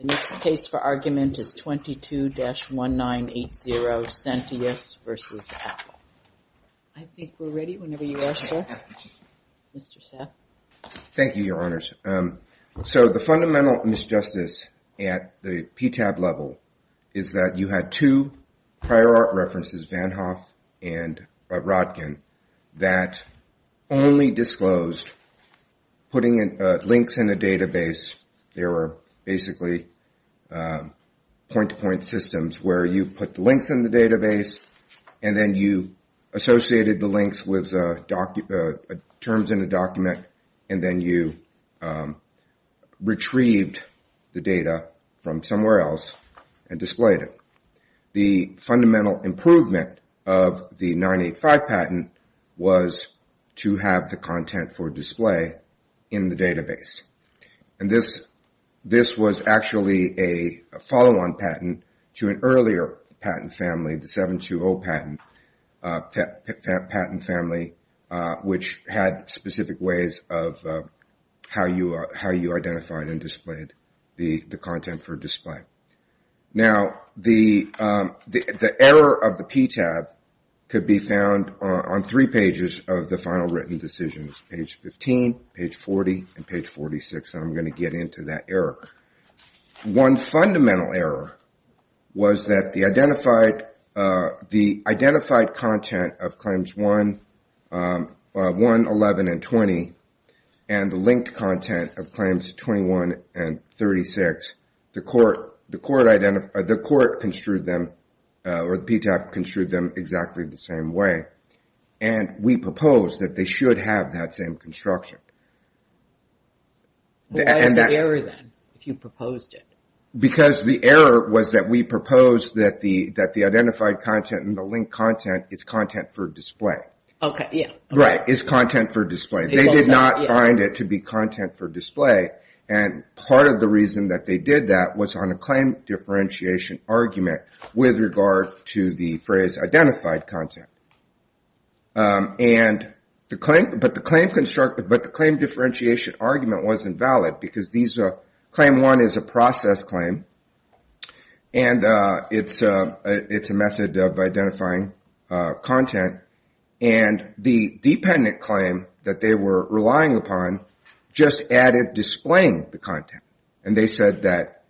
The next case for argument is 22-1980, Sentius v. Apple. I think we're ready whenever you are, sir. Mr. Seth. Thank you, Your Honors. So the fundamental misjustice at the PTAB level is that you had two prior art references, which is Van Hoff and Rodkin, that only disclosed putting links in a database. They were basically point-to-point systems where you put the links in the database and then you associated the links with terms in a document, and then you retrieved the data from somewhere else and displayed it. The fundamental improvement of the 985 patent was to have the content for display in the database. This was actually a follow-on patent to an earlier patent family, the 720 patent family, which had specific ways of how you identified and displayed the content for display. Now, the error of the PTAB could be found on three pages of the final written decisions, page 15, page 40, and page 46, and I'm going to get into that error. One fundamental error was that the identified content of claims 1, 11, and 20, and the linked content of claims 21 and 36, the court construed them, or the PTAB construed them exactly the same way, and we proposed that they should have that same construction. Why is the error then, if you proposed it? Because the error was that we proposed that the identified content and the linked content is content for display. Okay, yeah. Right, is content for display. They did not find it to be content for display, and part of the reason that they did that was on a claim differentiation argument with regard to the phrase identified content. But the claim differentiation argument wasn't valid, because claim 1 is a process claim, and it's a method of identifying content, and the dependent claim that they were relying upon just added displaying the content, and they said that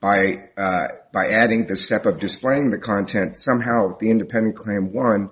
by adding the step of displaying the content, somehow the independent claim 1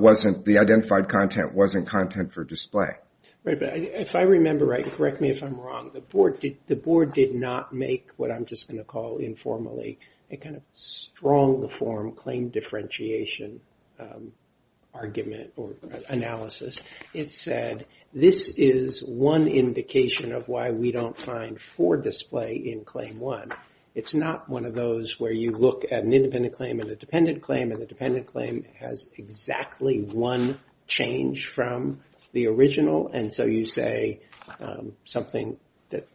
wasn't, the identified content wasn't content for display. Right, but if I remember right, and correct me if I'm wrong, the board did not make what I'm just going to call informally a kind of strong form claim differentiation argument or analysis. It said this is one indication of why we don't find for display in claim 1. It's not one of those where you look at an independent claim and a dependent claim, and the dependent claim has exactly one change from the original, and so you say something that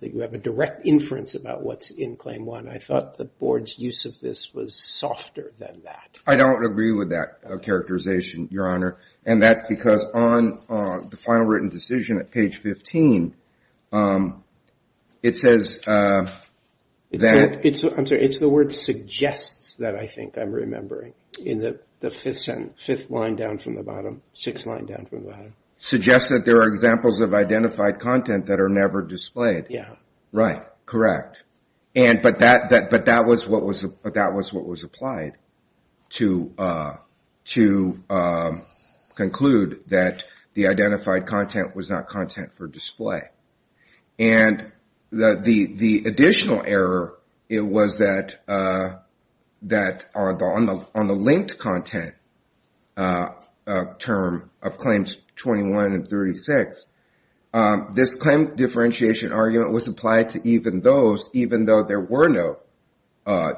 you have a direct inference about what's in claim 1. I thought the board's use of this was softer than that. I don't agree with that characterization, Your Honor, and that's because on the final written decision at page 15, it says that. I'm sorry, it's the word suggests that I think I'm remembering in the fifth line down from the bottom, sixth line down from the bottom. Suggests that there are examples of identified content that are never displayed. Yeah. Right, correct, but that was what was applied to conclude that the identified content was not content for display, and the additional error, it was that on the linked content term of claims 21 and 36, this claim differentiation argument was applied to even those even though there were no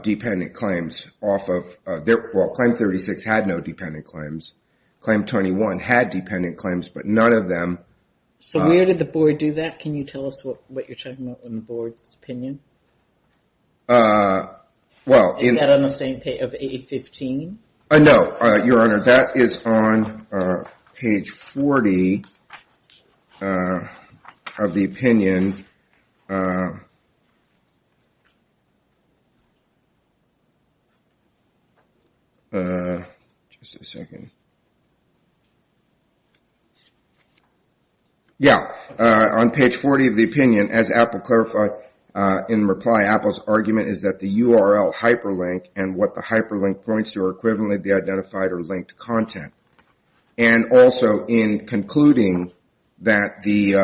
dependent claims off of. Well, claim 36 had no dependent claims. Claim 21 had dependent claims, but none of them. So where did the board do that? Can you tell us what you're talking about in the board's opinion? Is that on the same page of 815? No, Your Honor, that is on page 40 of the opinion. Just a second. Yeah, on page 40 of the opinion, as Apple clarified in reply, Apple's argument is that the URL hyperlink and what the hyperlink points to are equivalently the identified or linked content. And also in concluding that the,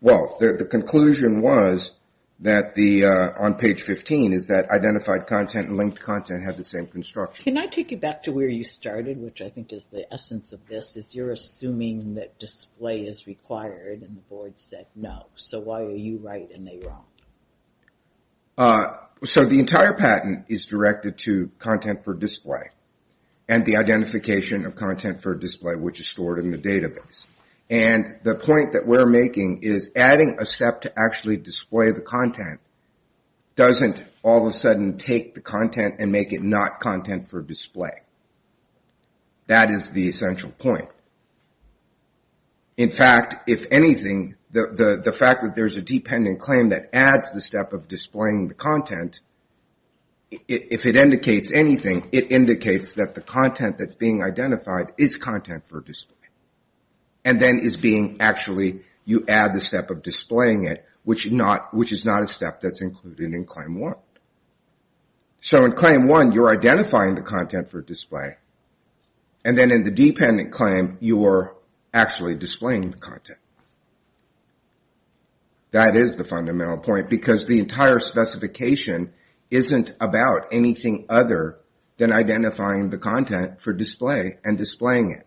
well, the conclusion was that the, on page 15, is that identified content and linked content have the same construction. Can I take you back to where you started, which I think is the essence of this, is you're assuming that display is required and the board said no. So why are you right and they wrong? So the entire patent is directed to content for display and the identification of content for display, which is stored in the database. And the point that we're making is adding a step to actually display the content doesn't all of a sudden take the content and make it not content for display. That is the essential point. In fact, if anything, the fact that there's a dependent claim that adds the step of displaying the content, if it indicates anything, it indicates that the content that's being identified is content for display. And then is being actually, you add the step of displaying it, which is not a step that's included in claim one. So in claim one, you're identifying the content for display. And then in the dependent claim, you're actually displaying the content. That is the fundamental point because the entire specification isn't about anything other than identifying the content for display and displaying it.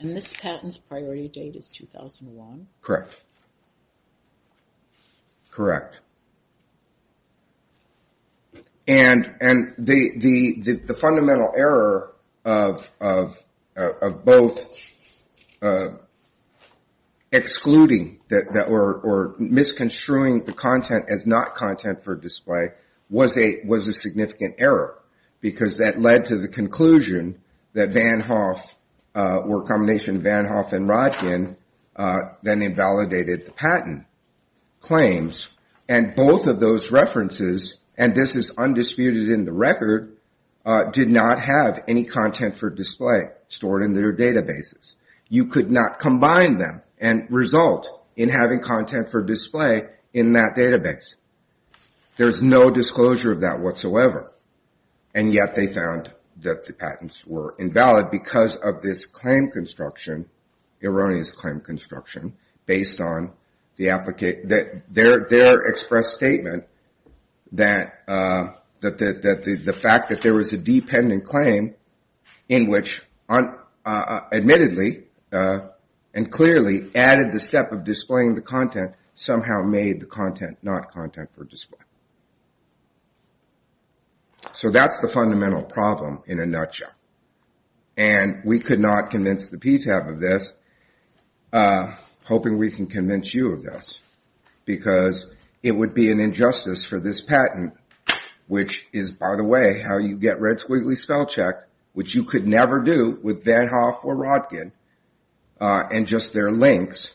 And this patent's priority date is 2001? Correct. Correct. And the fundamental error of both excluding or misconstruing the content as not content for display was a significant error because that led to the conclusion that Van Hoff or a combination of Van Hoff and Roggin then invalidated the patent claims. And both of those references, and this is undisputed in the record, did not have any content for display stored in their databases. You could not combine them and result in having content for display in that database. There's no disclosure of that whatsoever. And yet they found that the patents were invalid because of this claim construction, erroneous claim construction, based on their express statement that the fact that there was a dependent claim in which admittedly and clearly added the step of displaying the content somehow made the content not content for display. So that's the fundamental problem in a nutshell. And we could not convince the PTAB of this, hoping we can convince you of this, because it would be an injustice for this patent, which is, by the way, how you get Red Squiggly Spellcheck, which you could never do with Van Hoff or Roggin, and just their links.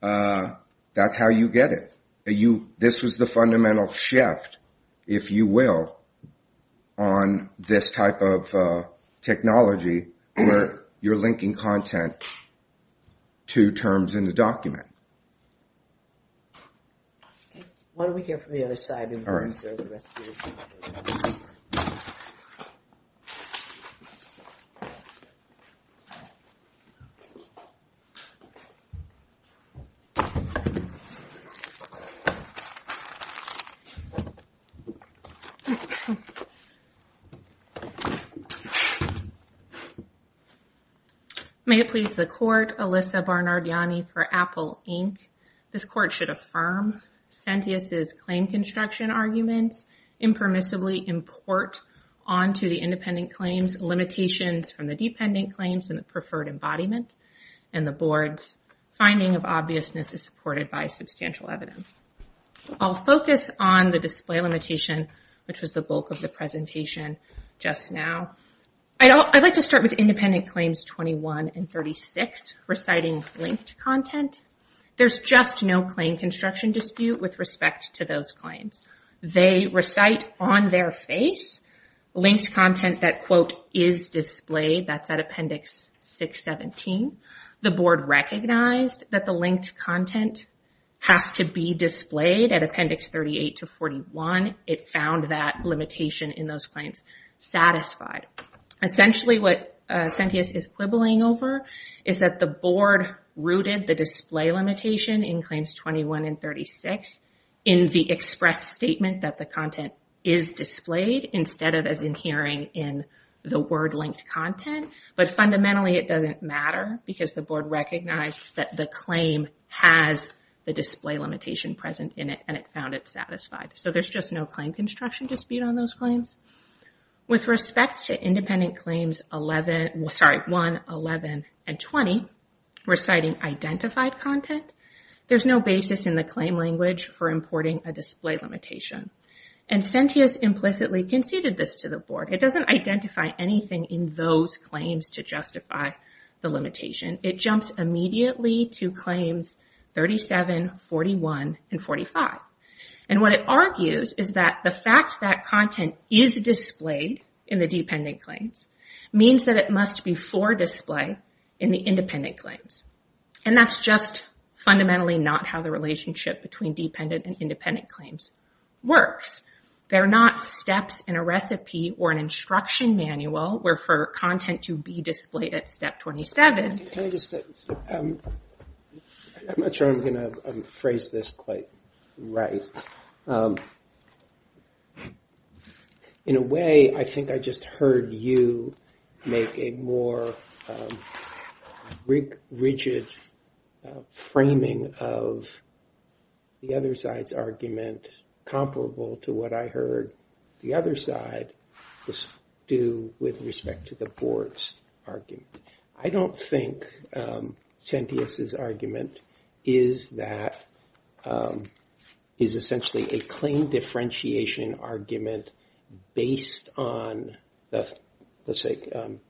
That's how you get it. This was the fundamental shift, if you will, on this type of technology where you're linking content to terms in the document. Why don't we hear from the other side? Okay. May it please the court, Alyssa Barnardiani for Apple Inc. This court should affirm Centius' claim construction arguments, impermissibly import onto the independent claims limitations from the dependent claims and the preferred embodiment, and the board's finding of obviousness is supported by substantial evidence. I'll focus on the display limitation, which was the bulk of the presentation just now. I'd like to start with independent claims 21 and 36, reciting linked content. There's just no claim construction dispute with respect to those claims. They recite on their face linked content that, quote, is displayed. That's at Appendix 617. The board recognized that the linked content has to be displayed at Appendix 38 to 41. It found that limitation in those claims satisfied. Essentially, what Centius is quibbling over is that the board rooted the display limitation in claims 21 and 36 in the express statement that the content is displayed instead of as inherent in the word linked content, but fundamentally it doesn't matter because the board recognized that the claim has the display limitation present in it, and it found it satisfied. So there's just no claim construction dispute on those claims. With respect to independent claims 1, 11, and 20, reciting identified content, there's no basis in the claim language for importing a display limitation, and Centius implicitly conceded this to the board. It doesn't identify anything in those claims to justify the limitation. It jumps immediately to claims 37, 41, and 45, and what it argues is that the fact that content is displayed in the dependent claims means that it must be for display in the independent claims, and that's just fundamentally not how the relationship between dependent and independent claims works. They're not steps in a recipe or an instruction manual where for content to be displayed at step 27. I'm not sure I'm going to phrase this quite right. In a way, I think I just heard you make a more rigid framing of the other side's argument comparable to what I heard the other side do with respect to the board's argument. I don't think Centius's argument is essentially a claim differentiation argument based on the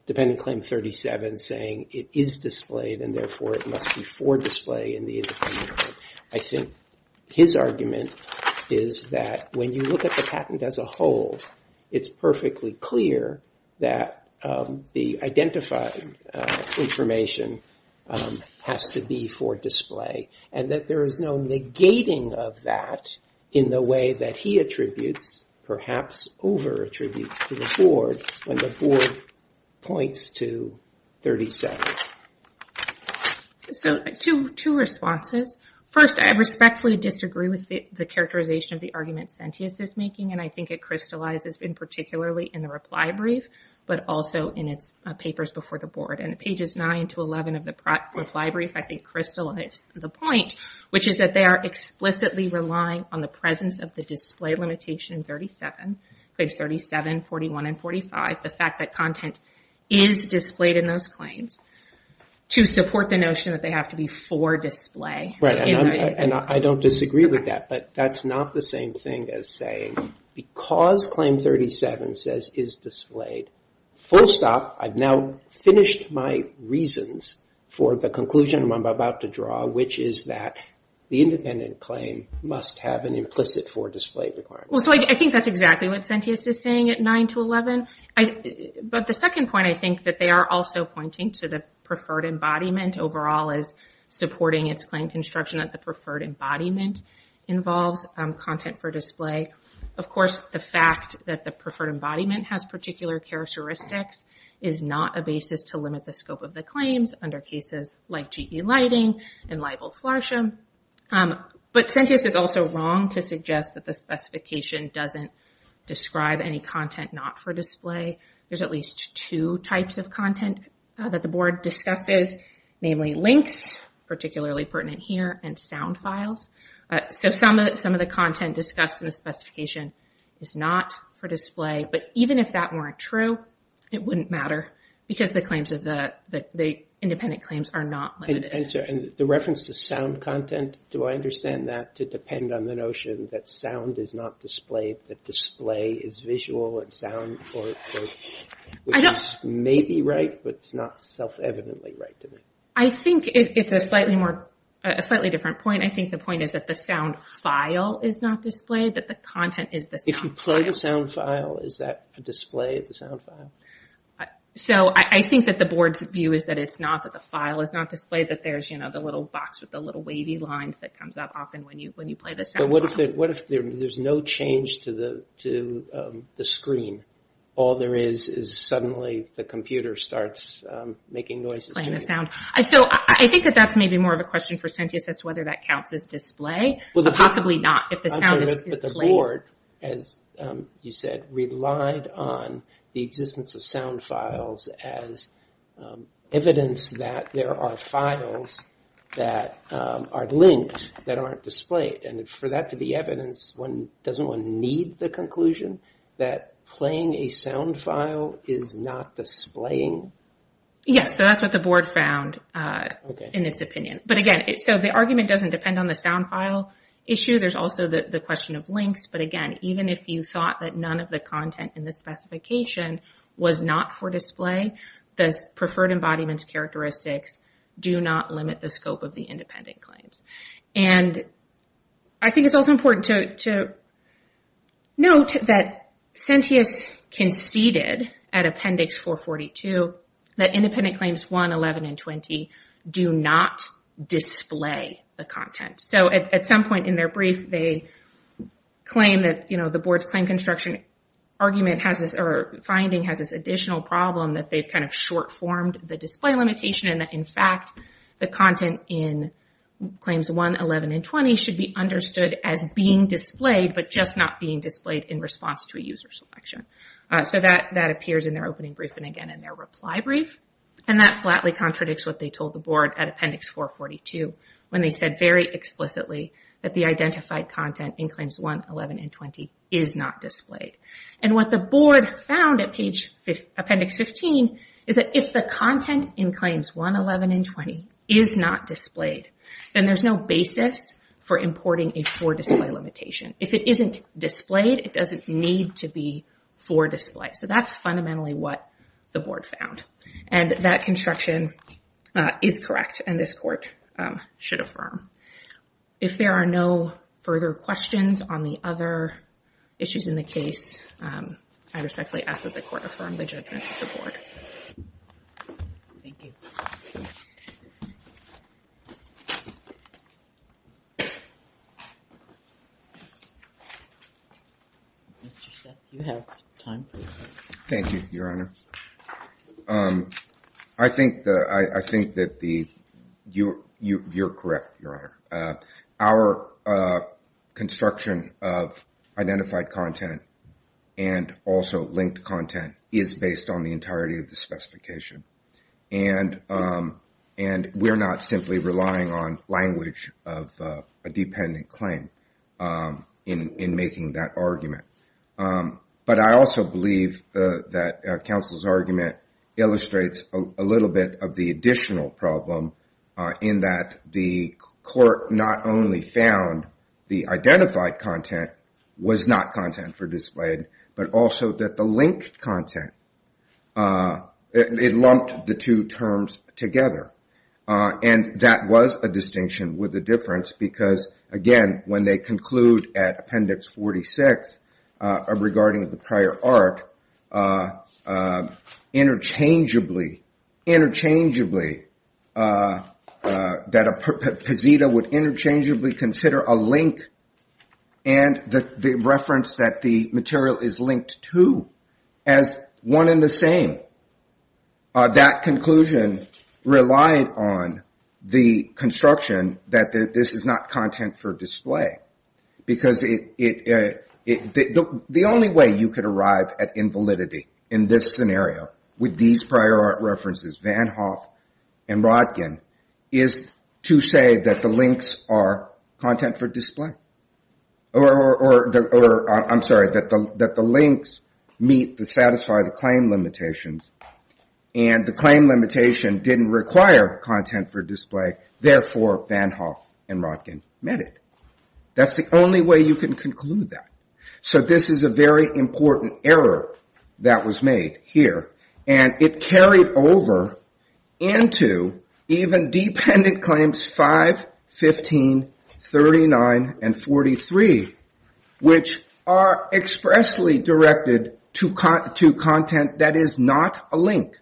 dependent claim 37 saying it is displayed and therefore it must be for display in the independent claim. I think his argument is that when you look at the patent as a whole, it's perfectly clear that the identified information has to be for display and that there is no negating of that in the way that he attributes, perhaps over-attributes to the board when the board points to 37. Two responses. First, I respectfully disagree with the characterization of the argument Centius is making, and I think it crystallizes in particularly in the reply brief, but also in its papers before the board. In pages 9 to 11 of the reply brief, I think crystallized the point, which is that they are explicitly relying on the presence of the display limitation 37, 41, and 45, the fact that content is displayed in those claims to support the notion that they have to be for display. I don't disagree with that, but that's not the same thing as saying because claim 37 says is displayed, full stop, I've now finished my reasons for the conclusion I'm about to draw, which is that the independent claim must have an implicit for display requirement. I think that's exactly what Centius is saying at 9 to 11, but the second point I think that they are also pointing to the preferred embodiment overall as supporting its claim construction that the preferred embodiment involves content for display. Of course, the fact that the preferred embodiment has particular characteristics is not a basis to limit the scope of the claims under cases like GE Lighting and liable flarsham, but Centius is also wrong to suggest that the specification doesn't describe any content not for display. There's at least two types of content that the board discusses, namely links, particularly pertinent here, and sound files. Some of the content discussed in the specification is not for display, but even if that weren't true, it wouldn't matter because the independent claims are not limited. The reference to sound content, do I understand that to depend on the notion that sound is not displayed, that display is visual and sound, which is maybe right, but it's not self-evidently right to me? I think it's a slightly different point. I think the point is that the sound file is not displayed, that the content is the sound file. If you play the sound file, is that a display of the sound file? I think that the board's view is that it's not, that the file is not displayed, that there's the little box with the little wavy lines that comes up often when you play the sound file. What if there's no change to the screen? All there is is suddenly the computer starts making noises to you? Playing the sound. I think that that's maybe more of a question for Centius as to whether that counts as display, but possibly not. The board, as you said, relied on the existence of sound files as evidence that there are files that are linked that aren't displayed. For that to be evidence, doesn't one need the conclusion that playing a sound file is not displaying? Yes, so that's what the board found in its opinion. The argument doesn't depend on the sound file issue. There's also the question of links. But again, even if you thought that none of the content in the specification was not for display, the preferred embodiment's characteristics do not limit the scope of the independent claims. I think it's also important to note that Centius conceded at Appendix 442 that Independent Claims 1, 11, and 20 do not display the content. At some point in their brief, they claim that the board's claim construction finding has this additional problem that they've short-formed the display limitation. In fact, the content in Claims 1, 11, and 20 should be understood as being displayed, but just not being displayed in response to a user selection. So that appears in their opening brief and again in their reply brief. And that flatly contradicts what they told the board at Appendix 442 when they said very explicitly that the identified content in Claims 1, 11, and 20 is not displayed. And what the board found at Appendix 15 is that if the content in Claims 1, 11, and 20 is not displayed, then there's no basis for importing a for display limitation. If it isn't displayed, it doesn't need to be for display. So that's fundamentally what the board found. And that construction is correct and this court should affirm. If there are no further questions on the other issues in the case, I respectfully ask that the court affirm the judgment of the board. Mr. Sheffield, you have time. Thank you, Your Honor. I think that you're correct, Your Honor. Our construction of identified content and also linked content is based on the entirety of the specification. And we're not simply relying on language of a dependent claim in making that argument. But I also believe that counsel's argument illustrates a little bit of the additional problem in that the court not only found the identified content was not content for displayed, but also that the linked content, it lumped the two terms together. And that was a distinction with a difference because, again, when they conclude at Appendix 46 regarding the prior art, interchangeably that a posita would interchangeably consider a link and the reference that the material is linked to as one and the same. That conclusion relied on the construction that this is not content for display. The only way you could arrive at invalidity in this scenario with these prior art references, Van Hoff and Rodkin, is to say that the links are content for display. Or, I'm sorry, that the links meet the satisfied claim limitations and the claim limitation didn't require content for display, therefore Van Hoff and Rodkin met it. That's the only way you can conclude that. So this is a very important error that was made here. And it carried over into even dependent claims 5, 15, 39, and 43, which are expressly directed to content that is not a link.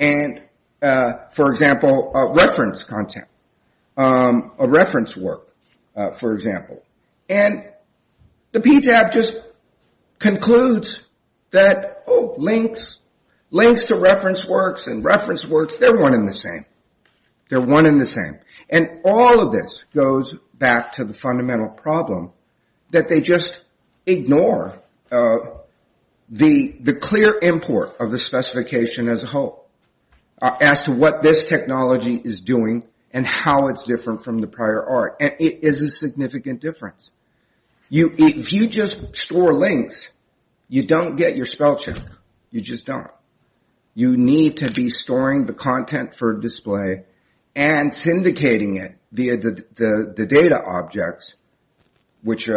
And, for example, reference content, a reference work, for example. And the PTAB just concludes that, oh, links, links to reference works and reference works, they're one and the same. They're one and the same. And all of this goes back to the fundamental problem that they just ignore the clear import of the specification as a whole as to what this technology is doing and how it's different from the prior art. And it is a significant difference. If you just store links, you don't get your spellcheck. You just don't. You need to be storing the content for display and syndicating it via the data objects, which in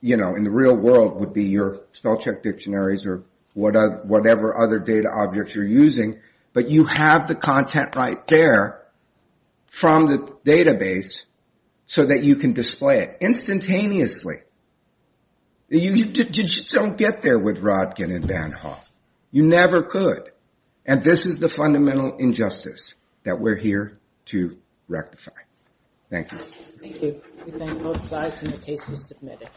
the real world would be your spellcheck dictionaries or whatever other data objects you're using. But you have the content right there from the database so that you can display it instantaneously. You just don't get there with Rodkin and Van Hoff. You never could. And this is the fundamental injustice that we're here to rectify. Thank you.